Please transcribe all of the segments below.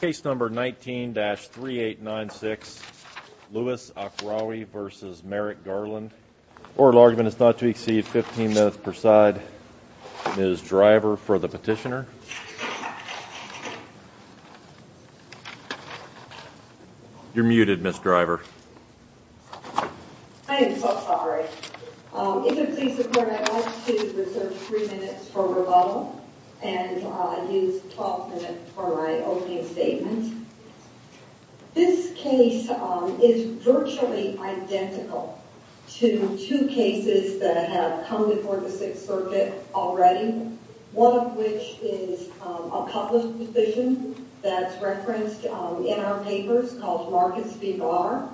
Case number 19-3896, Lewis Akrawi v. Merrick Garland. Oral argument is not to exceed 15 minutes per side. Ms. Driver for the petitioner. You're muted, Ms. Driver. I am so sorry. If you'll please support, I'd like to reserve three minutes for rebuttal and use 12 minutes for my opening statement. This case is virtually identical to two cases that have come before the Sixth Circuit already. One of which is a public decision that's referenced in our papers called Marcus v. Barr.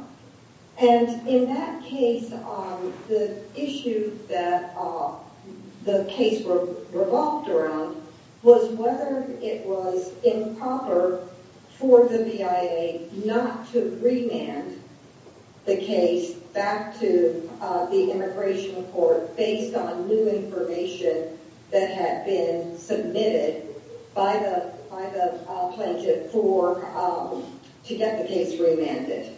And in that case, the issue that the case revolved around was whether it was improper for the BIA not to remand the case back to the immigration court based on new information that had been submitted by the plaintiff to get the case remanded.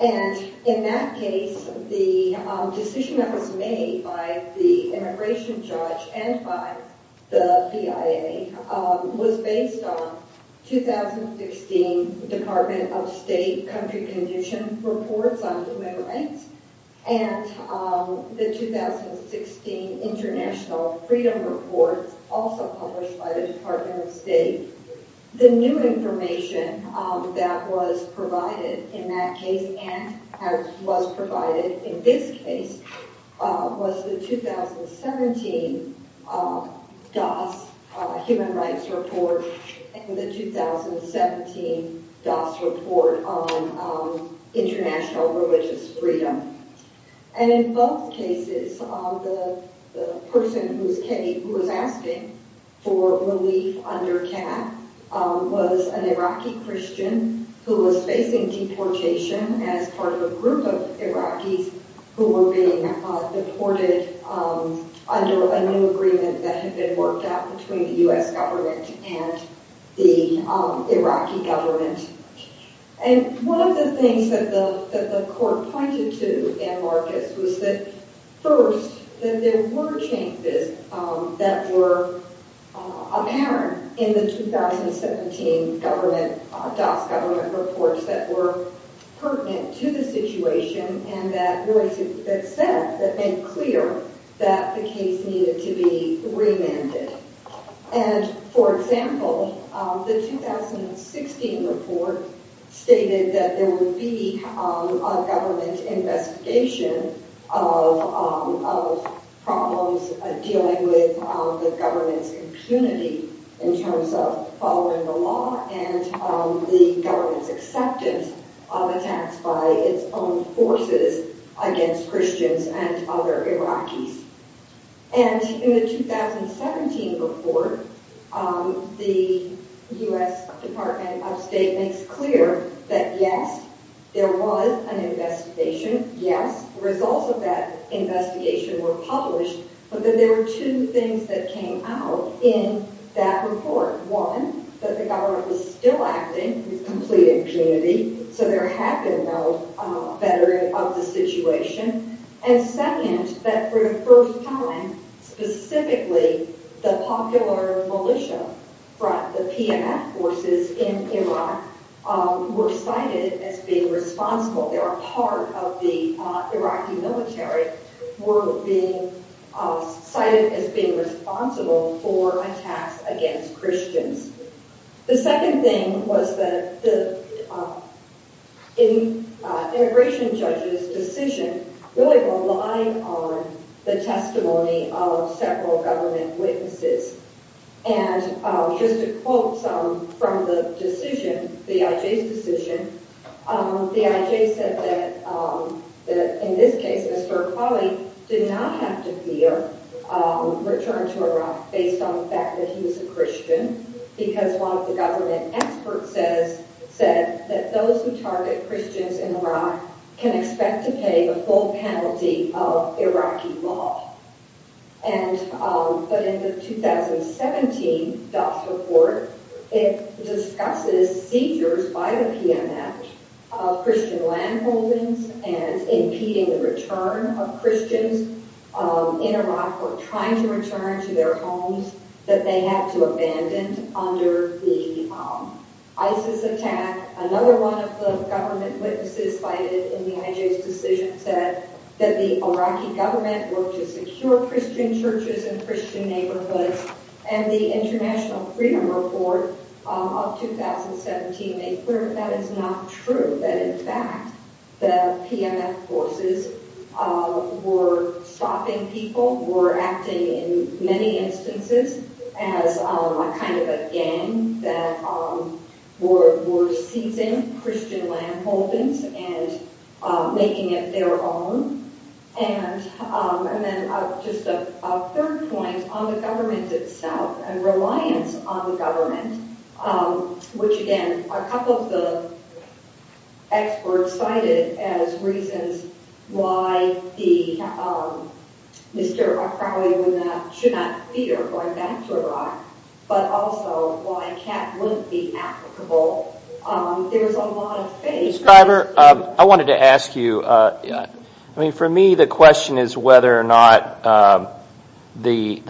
And in that case, the decision that was made by the immigration judge and by the BIA was based on 2016 Department of State country condition reports on human rights and the 2016 International Freedom Report, also published by the Department of State. The new information that was provided in that case and was provided in this case was the 2017 DAS human rights report and the 2017 DAS report on international religious freedom. And in both cases, the person who was asking for relief under CAP was an Iraqi Christian who was facing deportation as part of a group of Iraqis who were being deported under a new agreement that had been worked out between the U.S. government and the Iraqi government. And one of the things that the court pointed to in Marcus was that first, that there were changes that were apparent in the 2017 government, DAS government reports that were pertinent to the situation and that said, that made clear that the case needed to be remanded. And for example, the 2016 report stated that there would be a government investigation of problems dealing with the government's impunity in terms of following the law and the government's acceptance of attacks by its own forces against Christians and other Iraqis. And in the 2017 report, the U.S. Department of State makes clear that yes, there was an investigation, yes, results of that investigation were published, but that there were two things that came out in that report. One, that the government was still acting with complete impunity, so there had been no bettering of the situation. And second, that for the first time, specifically, the popular militia, the PMF forces in Iraq were cited as being responsible. They were part of the Iraqi military, were cited as being responsible for attacks against Christians. The second thing was that the immigration judge's decision really relied on the testimony of several government witnesses. And just to quote from the decision, the IJ's decision, the IJ said that in this case, Mr. Christian, because one of the government experts said that those who target Christians in Iraq can expect to pay the full penalty of Iraqi law. But in the 2017 DAS report, it discusses seizures by the PMF of Christian land holdings and impeding the return of Christians in Iraq who are trying to return to their homes that they had to abandon under the ISIS attack. Another one of the government witnesses cited in the IJ's decision said that the Iraqi government worked to secure Christian churches and Christian neighborhoods. And the International Freedom Report of 2017 made clear that that is not true, that in many instances they were stopping people, were acting in many instances as kind of a gang that were seizing Christian land holdings and making it their own. And then just a third point on the government itself and reliance on the government, which again, a couple of the experts cited as reasons why Mr. Akrawi would not, should not fear going back to Iraq, but also why Kat wouldn't be applicable. There was a lot of faith. Mr. Schreiber, I wanted to ask you, I mean for me the question is whether or not the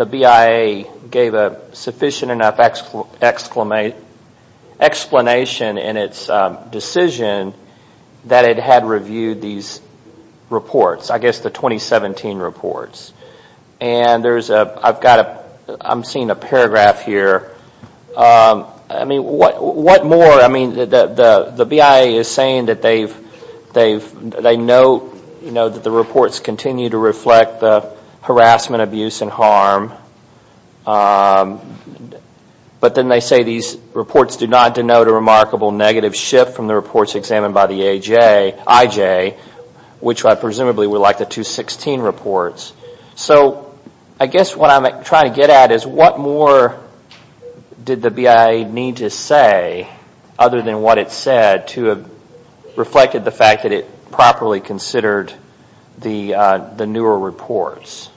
explanation in its decision that it had reviewed these reports, I guess the 2017 reports. And there's a, I've got a, I'm seeing a paragraph here. I mean what more, I mean the BIA is saying that they know that the reports continue to report a remarkable negative shift from the reports examined by the IJ, which presumably were like the 2016 reports. So I guess what I'm trying to get at is what more did the BIA need to say other than what it said to have reflected the fact that it properly considered the newer reports?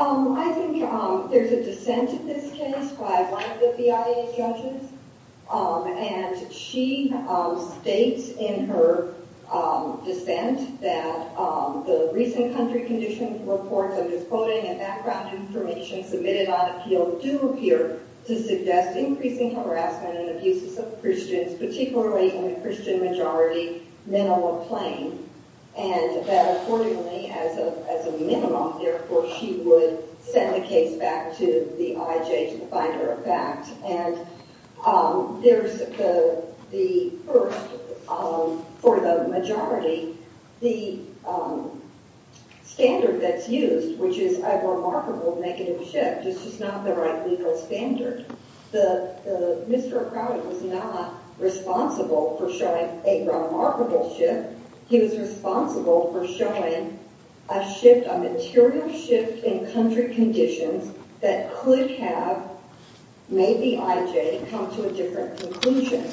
I think there's a dissent in this case by one of the BIA judges. And she states in her dissent that the recent country condition reports of his quoting and background information submitted on appeal do appear to suggest increasing harassment and abuses of Christians, particularly in the Christian majority, minimal or plain. And that accordingly, as a minimum, therefore she would send the case back to the IJ to find her facts. And there's the first, for the majority, the standard that's used, which is a remarkable negative shift. This is not the right legal standard. Mr. O'Crowley was not responsible for showing a remarkable shift. He was responsible for showing a shift, a material shift in country conditions that could have made the IJ come to a different conclusion.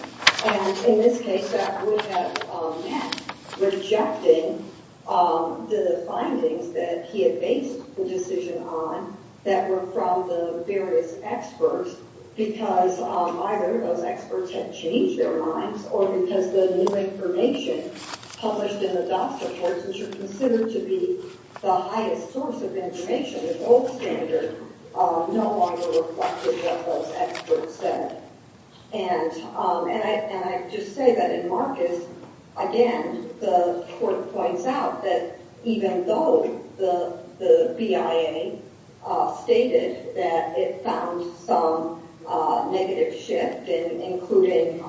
And in this case, that would have meant rejecting the findings that he had based the decision on that were from the various experts because either those experts had changed their minds or because the new information published in the DASA reports, which are considered to be the highest source of information, the gold standard, no longer reflected what those experts said. And I just say that in Marcus, again, the court points out that even though the BIA stated that it found some negative shift in including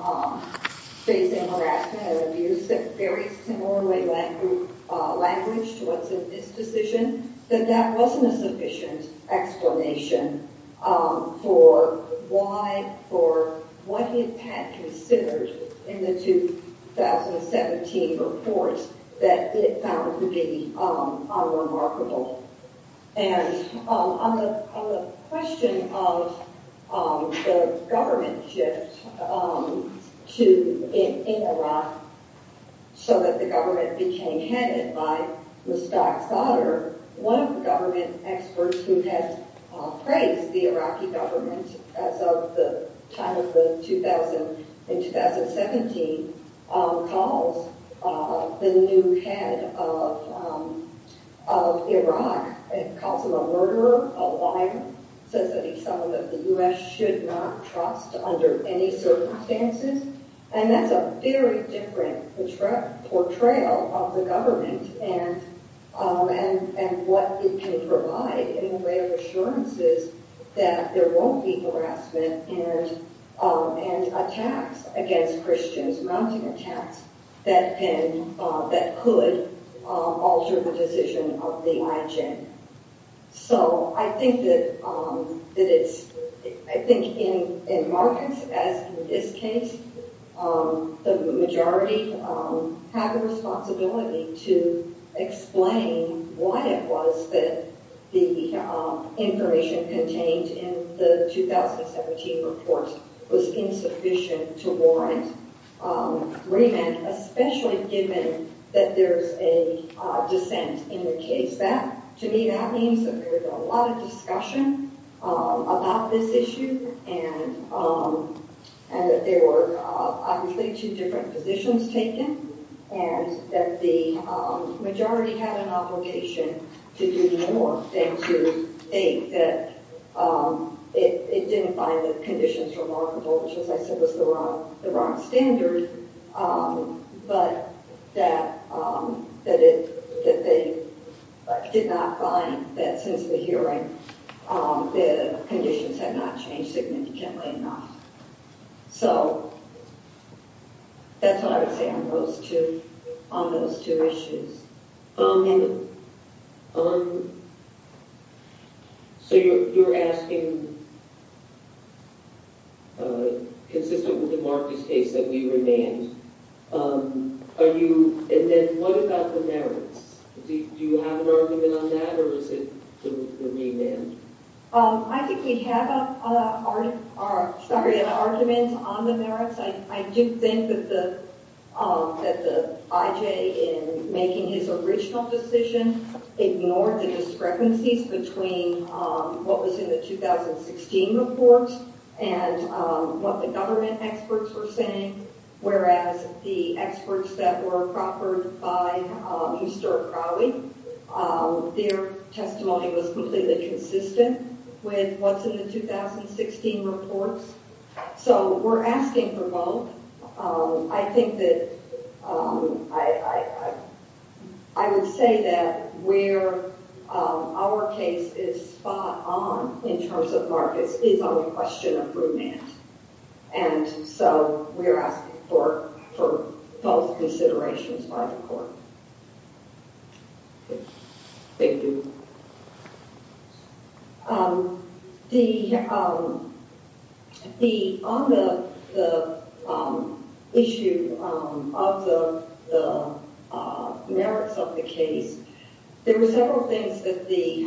facing harassment and abuse in a very similar language to what's in this decision, that that wasn't a sufficient explanation for why, for what it had considered in the 2017 reports that it found to be unremarkable. And on the question of the government shift in Iraq so that the government became headed by Mustaq's daughter, one of the government experts who has praised the Iraqi government as of the time of the 2017 calls the new head of Iraq and calls him a murderer, a liar, says that he's someone that the U.S. should not trust under any circumstances. And that's a very different portrayal of the government and what it can provide in the way of assurances that there won't be harassment and attacks against Christians, mounting attacks, that could alter the decision of the IGN. So I think that it's, I think in Marcus, as in this case, the majority have a responsibility to explain why it was that the information contained in the 2017 report was insufficient to warrant remand, especially given that there's a dissent in the case. That, to me, that means that there's a lot of discussion about this issue and that there were obviously two different positions taken and that the majority had an obligation to do more than to think that it didn't find the conditions remarkable, which as I said was the wrong standard, but that they did not find that since the hearing the conditions had not changed significantly enough. So, that's what I would say on those two, on those two issues. So you're asking, consistent with the Marcus case, that we remand. Are you, and then what about the merits? Do you have an argument on that or is it the remand? I think we have an argument on the merits. I do think that the IJ in making his original decision ignored the discrepancies between what was in the 2016 report and what the government experts were saying, whereas the experts that were proffered by Euster Crowley, their testimony was completely consistent with what's in the 2016 reports. So, we're asking for both. I think that I would say that where our case is spot on in terms of Marcus is on the question of remand. And so, we're asking for both considerations by the court. Thank you. The, on the issue of the merits of the case, there were several things that the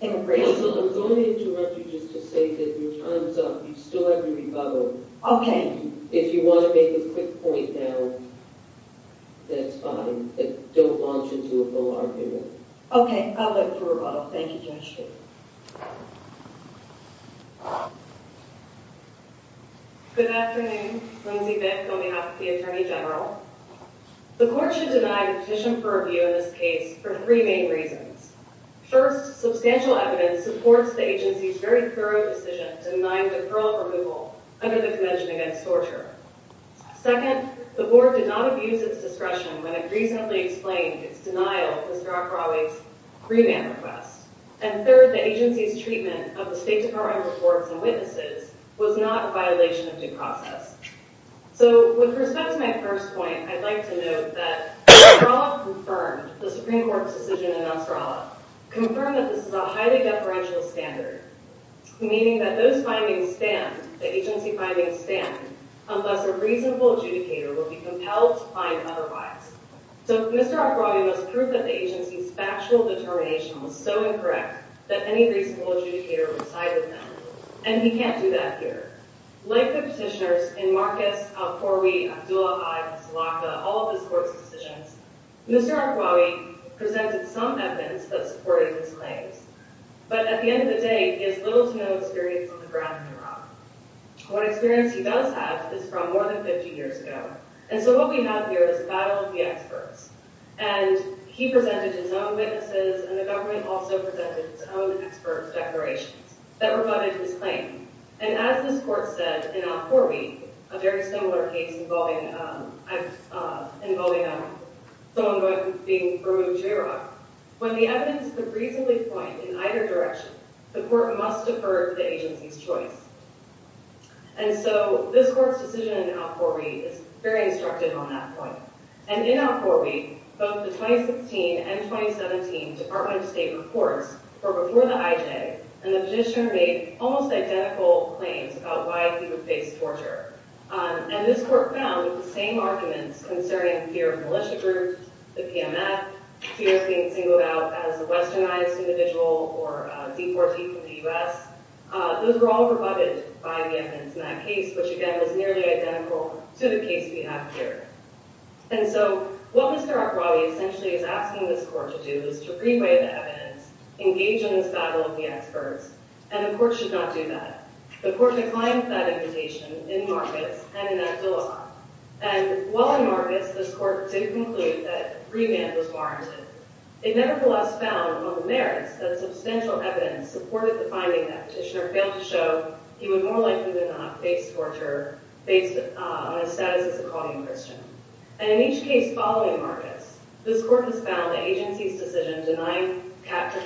immigration I'm going to interrupt you just to say that your time's up. You still have your rebuttal. Okay. If you want to make a quick point now, that's fine. But don't launch into a full argument. Okay. I'll go through a rebuttal. Thank you, Judge. Good afternoon. Lindsey Bick on behalf of the Attorney General. The court should deny the petition for review in this case for three main reasons. First, substantial evidence supports the agency's very thorough decision to deny deferral removal under the Convention Against Torture. Second, the board did not abuse its discretion when it recently explained its denial of Euster Crowley's remand request. And third, the agency's treatment of the State Department reports and witnesses was not a violation of due process. So, with respect to my first point, I'd like to note that Euster Crowley confirmed the this is a highly deferential standard, meaning that those findings stand, the agency findings stand, unless a reasonable adjudicator will be compelled to find otherwise. So, Mr. Arkwawi must prove that the agency's factual determination was so incorrect that any reasonable adjudicator would side with him. And he can't do that here. Like the petitioners in Marquez, Al-Khoury, Abdullah, Haid, and Salaka, all of his court's Mr. Arkwawi presented some evidence that supported his claims. But at the end of the day, he has little to no experience on the ground in Iraq. What experience he does have is from more than 50 years ago. And so what we have here is a battle of the experts. And he presented his own witnesses, and the government also presented its own experts' declarations that rebutted his claim. And as this court said in Al-Khoury, a very similar case involving someone being removed from Iraq, when the evidence could reasonably point in either direction, the court must defer to the agency's choice. And so this court's decision in Al-Khoury is very instructive on that point. And in Al-Khoury, both the 2016 and 2017 Department of State reports were before the IJ, and the IJ made several critical claims about why he would face torture. And this court found the same arguments concerning fear of militia groups, the PMF, fear of being singled out as a westernized individual or a deportee from the U.S. Those were all rebutted by the evidence in that case, which again is nearly identical to the case we have here. And so what Mr. Arkwawi essentially is asking this court to do is to reweigh the evidence, engage in this battle of the experts, and the court should not do that. The court declined that invitation in Marcus and in Abdullah. And while in Marcus, this court did conclude that remand was warranted. It nevertheless found among the merits that substantial evidence supported the finding that Petitioner failed to show he would more likely than not face torture based on his status as a calling Christian. And in each case following Marcus, this court has found the agency's decision denying capture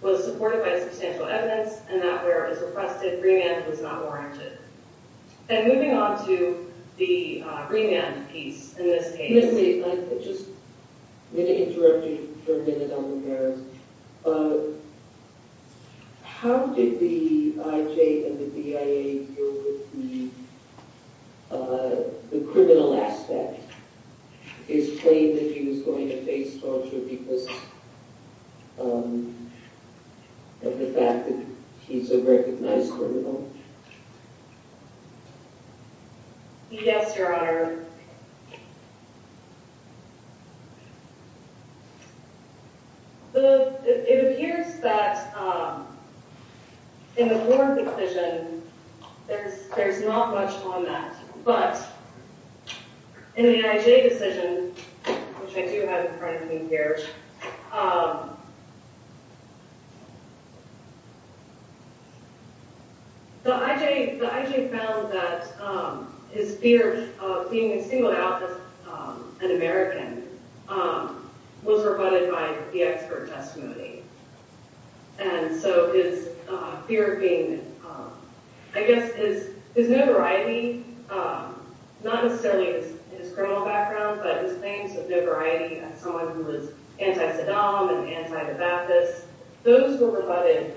was supported by substantial evidence and that where it was requested, remand was not warranted. And moving on to the remand piece in this case. Let me just interrupt you for a minute on the merits. How did the IJ and the BIA deal with the criminal aspect? His claim that he was going to face torture because of the fact that he's a recognized criminal? Yes, Your Honor. It appears that in the Warren decision, there's not much on that. But in the IJ decision, which I do have in front of me here, the IJ found that his fear of being singled out as an American was rebutted by the expert testimony. And so his fear of being, I guess, his no variety, not necessarily his criminal background, but his claims of no variety as someone who was anti-Saddam and anti-the Baptist, those were rebutted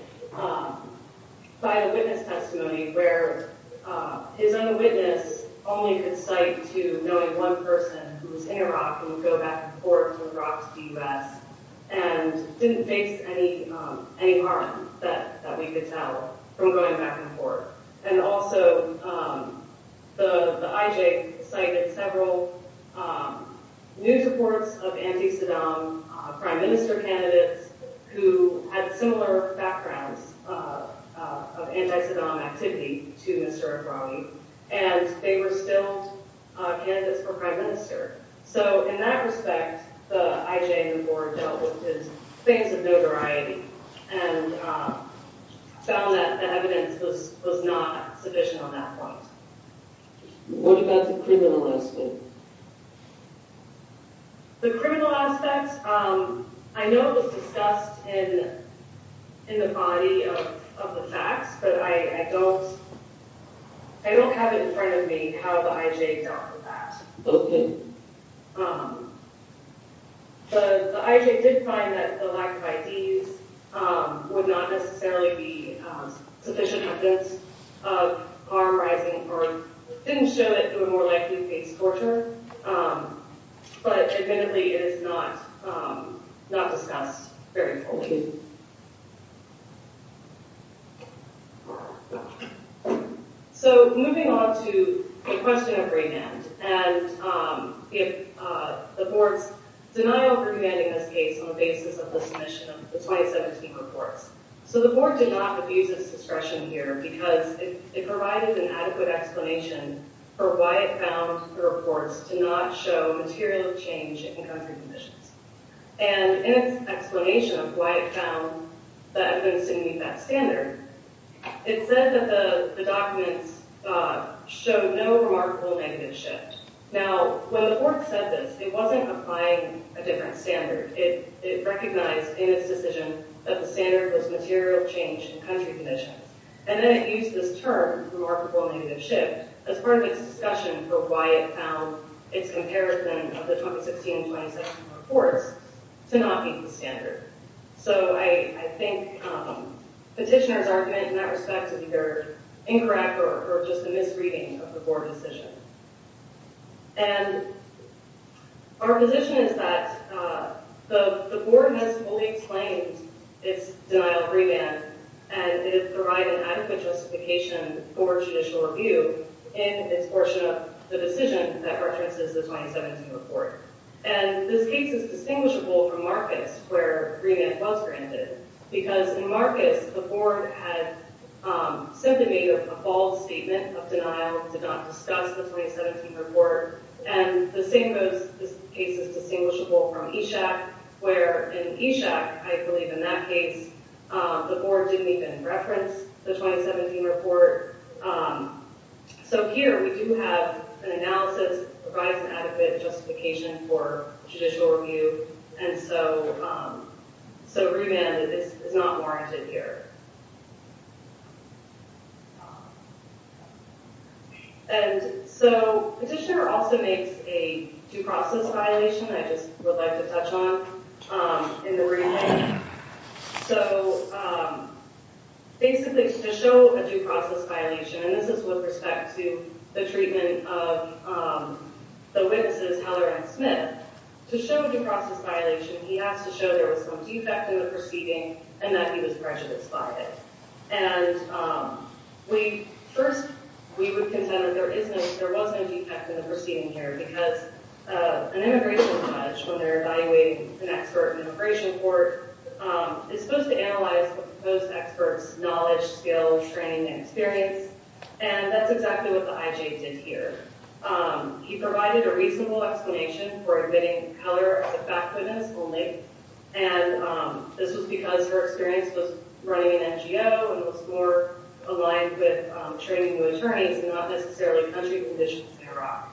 by the witness testimony where his own witness only could cite to knowing one person who was in Iraq and would go back and forth from Iraq to the U.S. And didn't face any harm that we could tell from going back and forth. And also, the IJ cited several news reports of anti-Saddam prime minister candidates who had similar backgrounds of anti-Saddam activity to Mr. Ebrahim. And they were still candidates for prime minister. So in that respect, the IJ and the board dealt with his claims of no variety and found that evidence was not sufficient on that point. What about the criminal aspect? The criminal aspect, I know it was discussed in the body of the facts, but I don't have it in front of me how the IJ dealt with that. Okay. The IJ did find that the lack of IDs would not necessarily be sufficient evidence of harm rising or didn't show it through a more likely face torture. But admittedly, it is not discussed very fully. Thank you. So moving on to the question of remand. And if the board's denial of remanding this case on the basis of the submission of the 2017 reports. So the board did not abuse its discretion here because it provided an adequate explanation for why it found the reports to not show material change in country conditions. And in its explanation of why it found that evidence didn't meet that standard, it said that the documents showed no remarkable negative shift. Now, when the board said this, it wasn't applying a different standard. It recognized in its decision that the standard was material change in country conditions. And then it used this term, remarkable negative shift, as part of its discussion for why it found its comparison of the 2016 and 2017 reports to not meet the standard. So I think petitioners' argument in that respect is either incorrect or just a misreading of the board decision. And our position is that the board has fully explained its denial of remand and it has provided an adequate justification for judicial review in its portion of the decision that references the 2017 report. And this case is distinguishable from Marcus, where remand was granted. Because in Marcus, the board had simply made a false statement of denial and did not discuss the 2017 report. And the same goes, this case is distinguishable from Eshaq, where in Eshaq, I believe in that case, did not discuss the 2017 report. So here, we do have an analysis that provides an adequate justification for judicial review. And so remand is not warranted here. And so petitioner also makes a due process violation that I just would like to touch on in the remand. So basically, to show a due process violation, and this is with respect to the treatment of the witnesses, Heller and Smith, to show a due process violation, he has to show there was some defect in the proceeding and that he was prejudiced by it. And first, we would contend that there was no defect in the proceeding here because an expert in an immigration court is supposed to analyze the proposed expert's knowledge, skill, training, and experience. And that's exactly what the IJ did here. He provided a reasonable explanation for admitting Heller as a back witness only. And this was because her experience was running an NGO and was more aligned with training new attorneys and not necessarily country conditions in Iraq.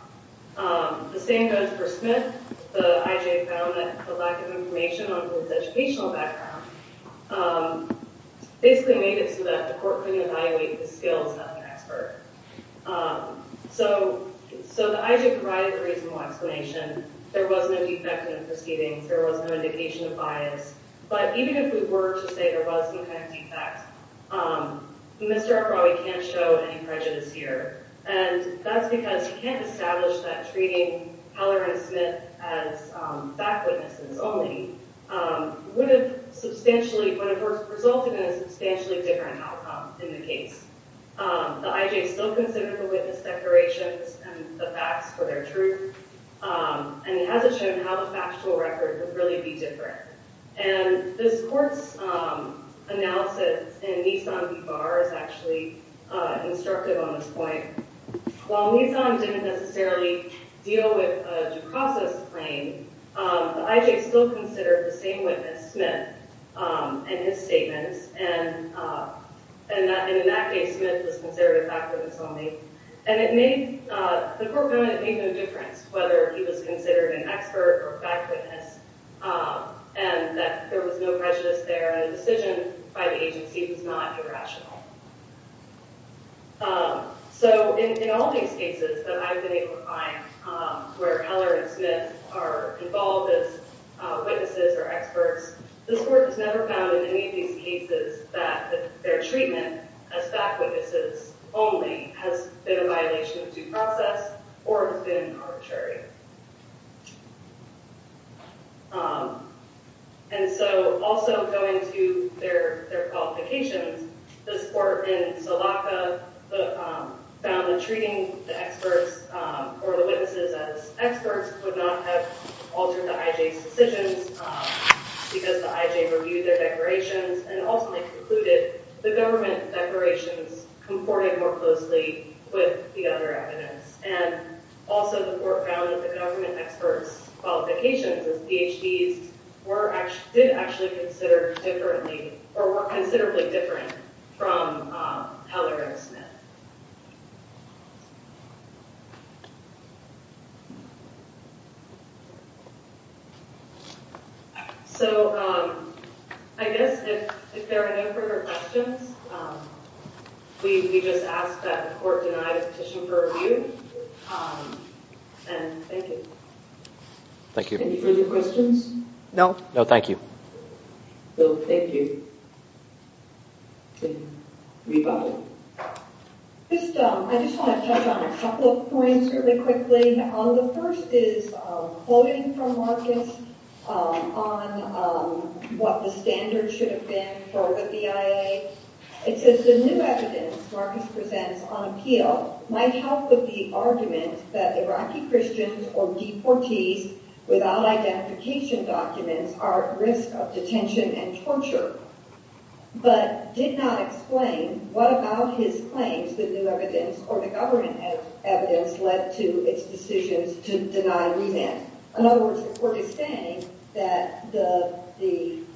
The same goes for Smith. The IJ found that the lack of information on his educational background basically made it so that the court couldn't evaluate his skills as an expert. So the IJ provided a reasonable explanation. There was no defect in the proceedings. There was no indication of bias. But even if we were to say there was some kind of defect, Mr. Akrawi can't show any prejudice here. And that's because he can't establish that treating Heller and Smith as back witnesses only would have substantially, would have resulted in a substantially different outcome in the case. The IJ still considered the witness declarations and the facts for their truth. And it hasn't shown how the factual record would really be different. And this court's analysis in Nissan v. Barr is actually instructive on this point. While Nissan didn't necessarily deal with a due process claim, the IJ still considered the same witness, Smith, and his statements. And in that case, Smith was considered a back witness only. And it made, the court found it made no difference whether he was considered an expert or back witness and that there was no prejudice there and the decision by the agency was not irrational. So in all these cases that I've been able to find where Heller and Smith are involved as witnesses or experts, this court has never found in any of these cases that their treatment as back witnesses only has been a violation of due process or has been arbitrary. And so also going to their qualifications, this court in Salaka found that treating the experts or the witnesses as experts would not have altered the IJ's decisions because the IJ reviewed their declarations and ultimately concluded the government declarations comported more closely with the other evidence. And also the court found that the government experts' qualifications as PhDs did actually consider differently or were considerably different from Heller and Smith. So I guess if there are no further questions, we just ask that the court deny the petition for review. And thank you. Thank you. Any further questions? No. No, thank you. Rebuttal. Rebuttal. Rebuttal. Rebuttal. Rebuttal. Rebuttal. I just want to touch on a couple of points really quickly. The first is a quoting from Marcus on what the standards should have been for the BIA. It says, the new evidence Marcus presents on appeal might help with the argument that Iraqi Christians or deportees without identification documents are at risk of detention and torture, but did not explain what about his claims that new evidence or the government evidence led to its decisions to deny remand. In other words, the court is saying that the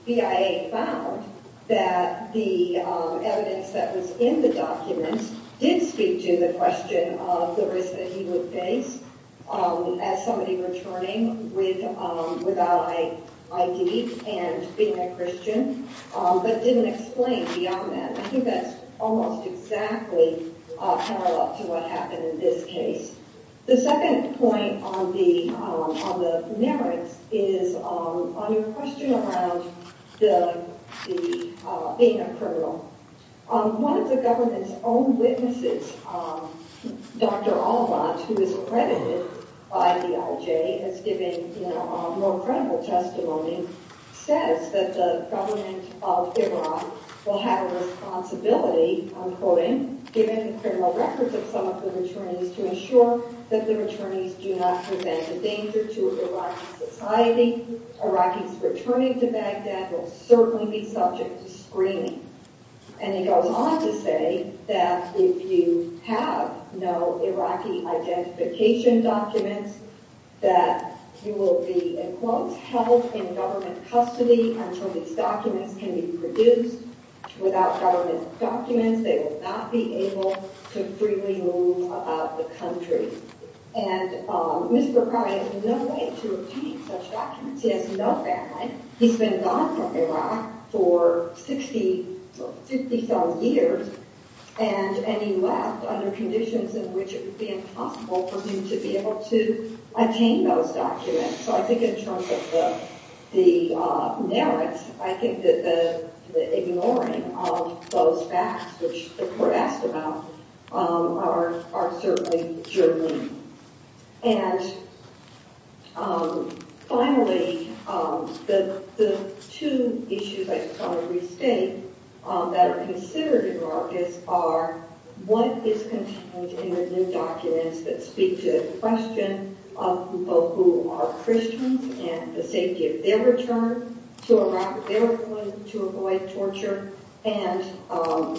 BIA found that the evidence that was in the documents did speak to the question of the risk that he would face as somebody returning without ID and being a Christian, but didn't explain beyond that. I think that's almost exactly parallel to what happened in this case. The second point on the merits is on your question around the being a criminal. One of the government's own witnesses, Dr. Alban, who is accredited by the IJ, has given more credible testimony, says that the government of Iran will have a responsibility, I'm quoting, given the criminal records of some of the returnees, to ensure that the returnees do not present a danger to Iraqi society. Iraqis returning to Baghdad will certainly be subject to screening. And he goes on to say that if you have no Iraqi identification documents, that you will be, in quotes, held in government custody until these documents can be produced. Without government documents, they will not be able to freely move about the country. And Mr. Karay has no way to obtain such documents. He has no family. He's been gone from Iraq for 60,000 years, and he left under conditions in which it would be impossible for him to be able to obtain those documents. So I think in terms of the merits, I think that the ignoring of those facts, which the And finally, the two issues I just want to restate that are considered in Iraqis are what is contained in the new documents that speak to the question of people who are Christians and the safety of their return to Iraq, their ability to avoid torture, and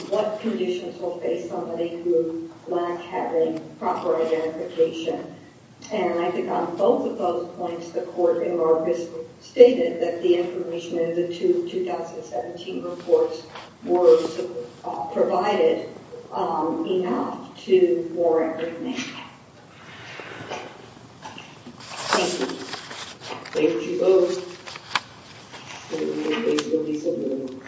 what conditions will face somebody who lacks having proper identification. And I think on both of those points, the court in Iraqis stated that the information in the two 2017 reports was provided enough for everything. Thank you. Thank you both. Please release a ruling.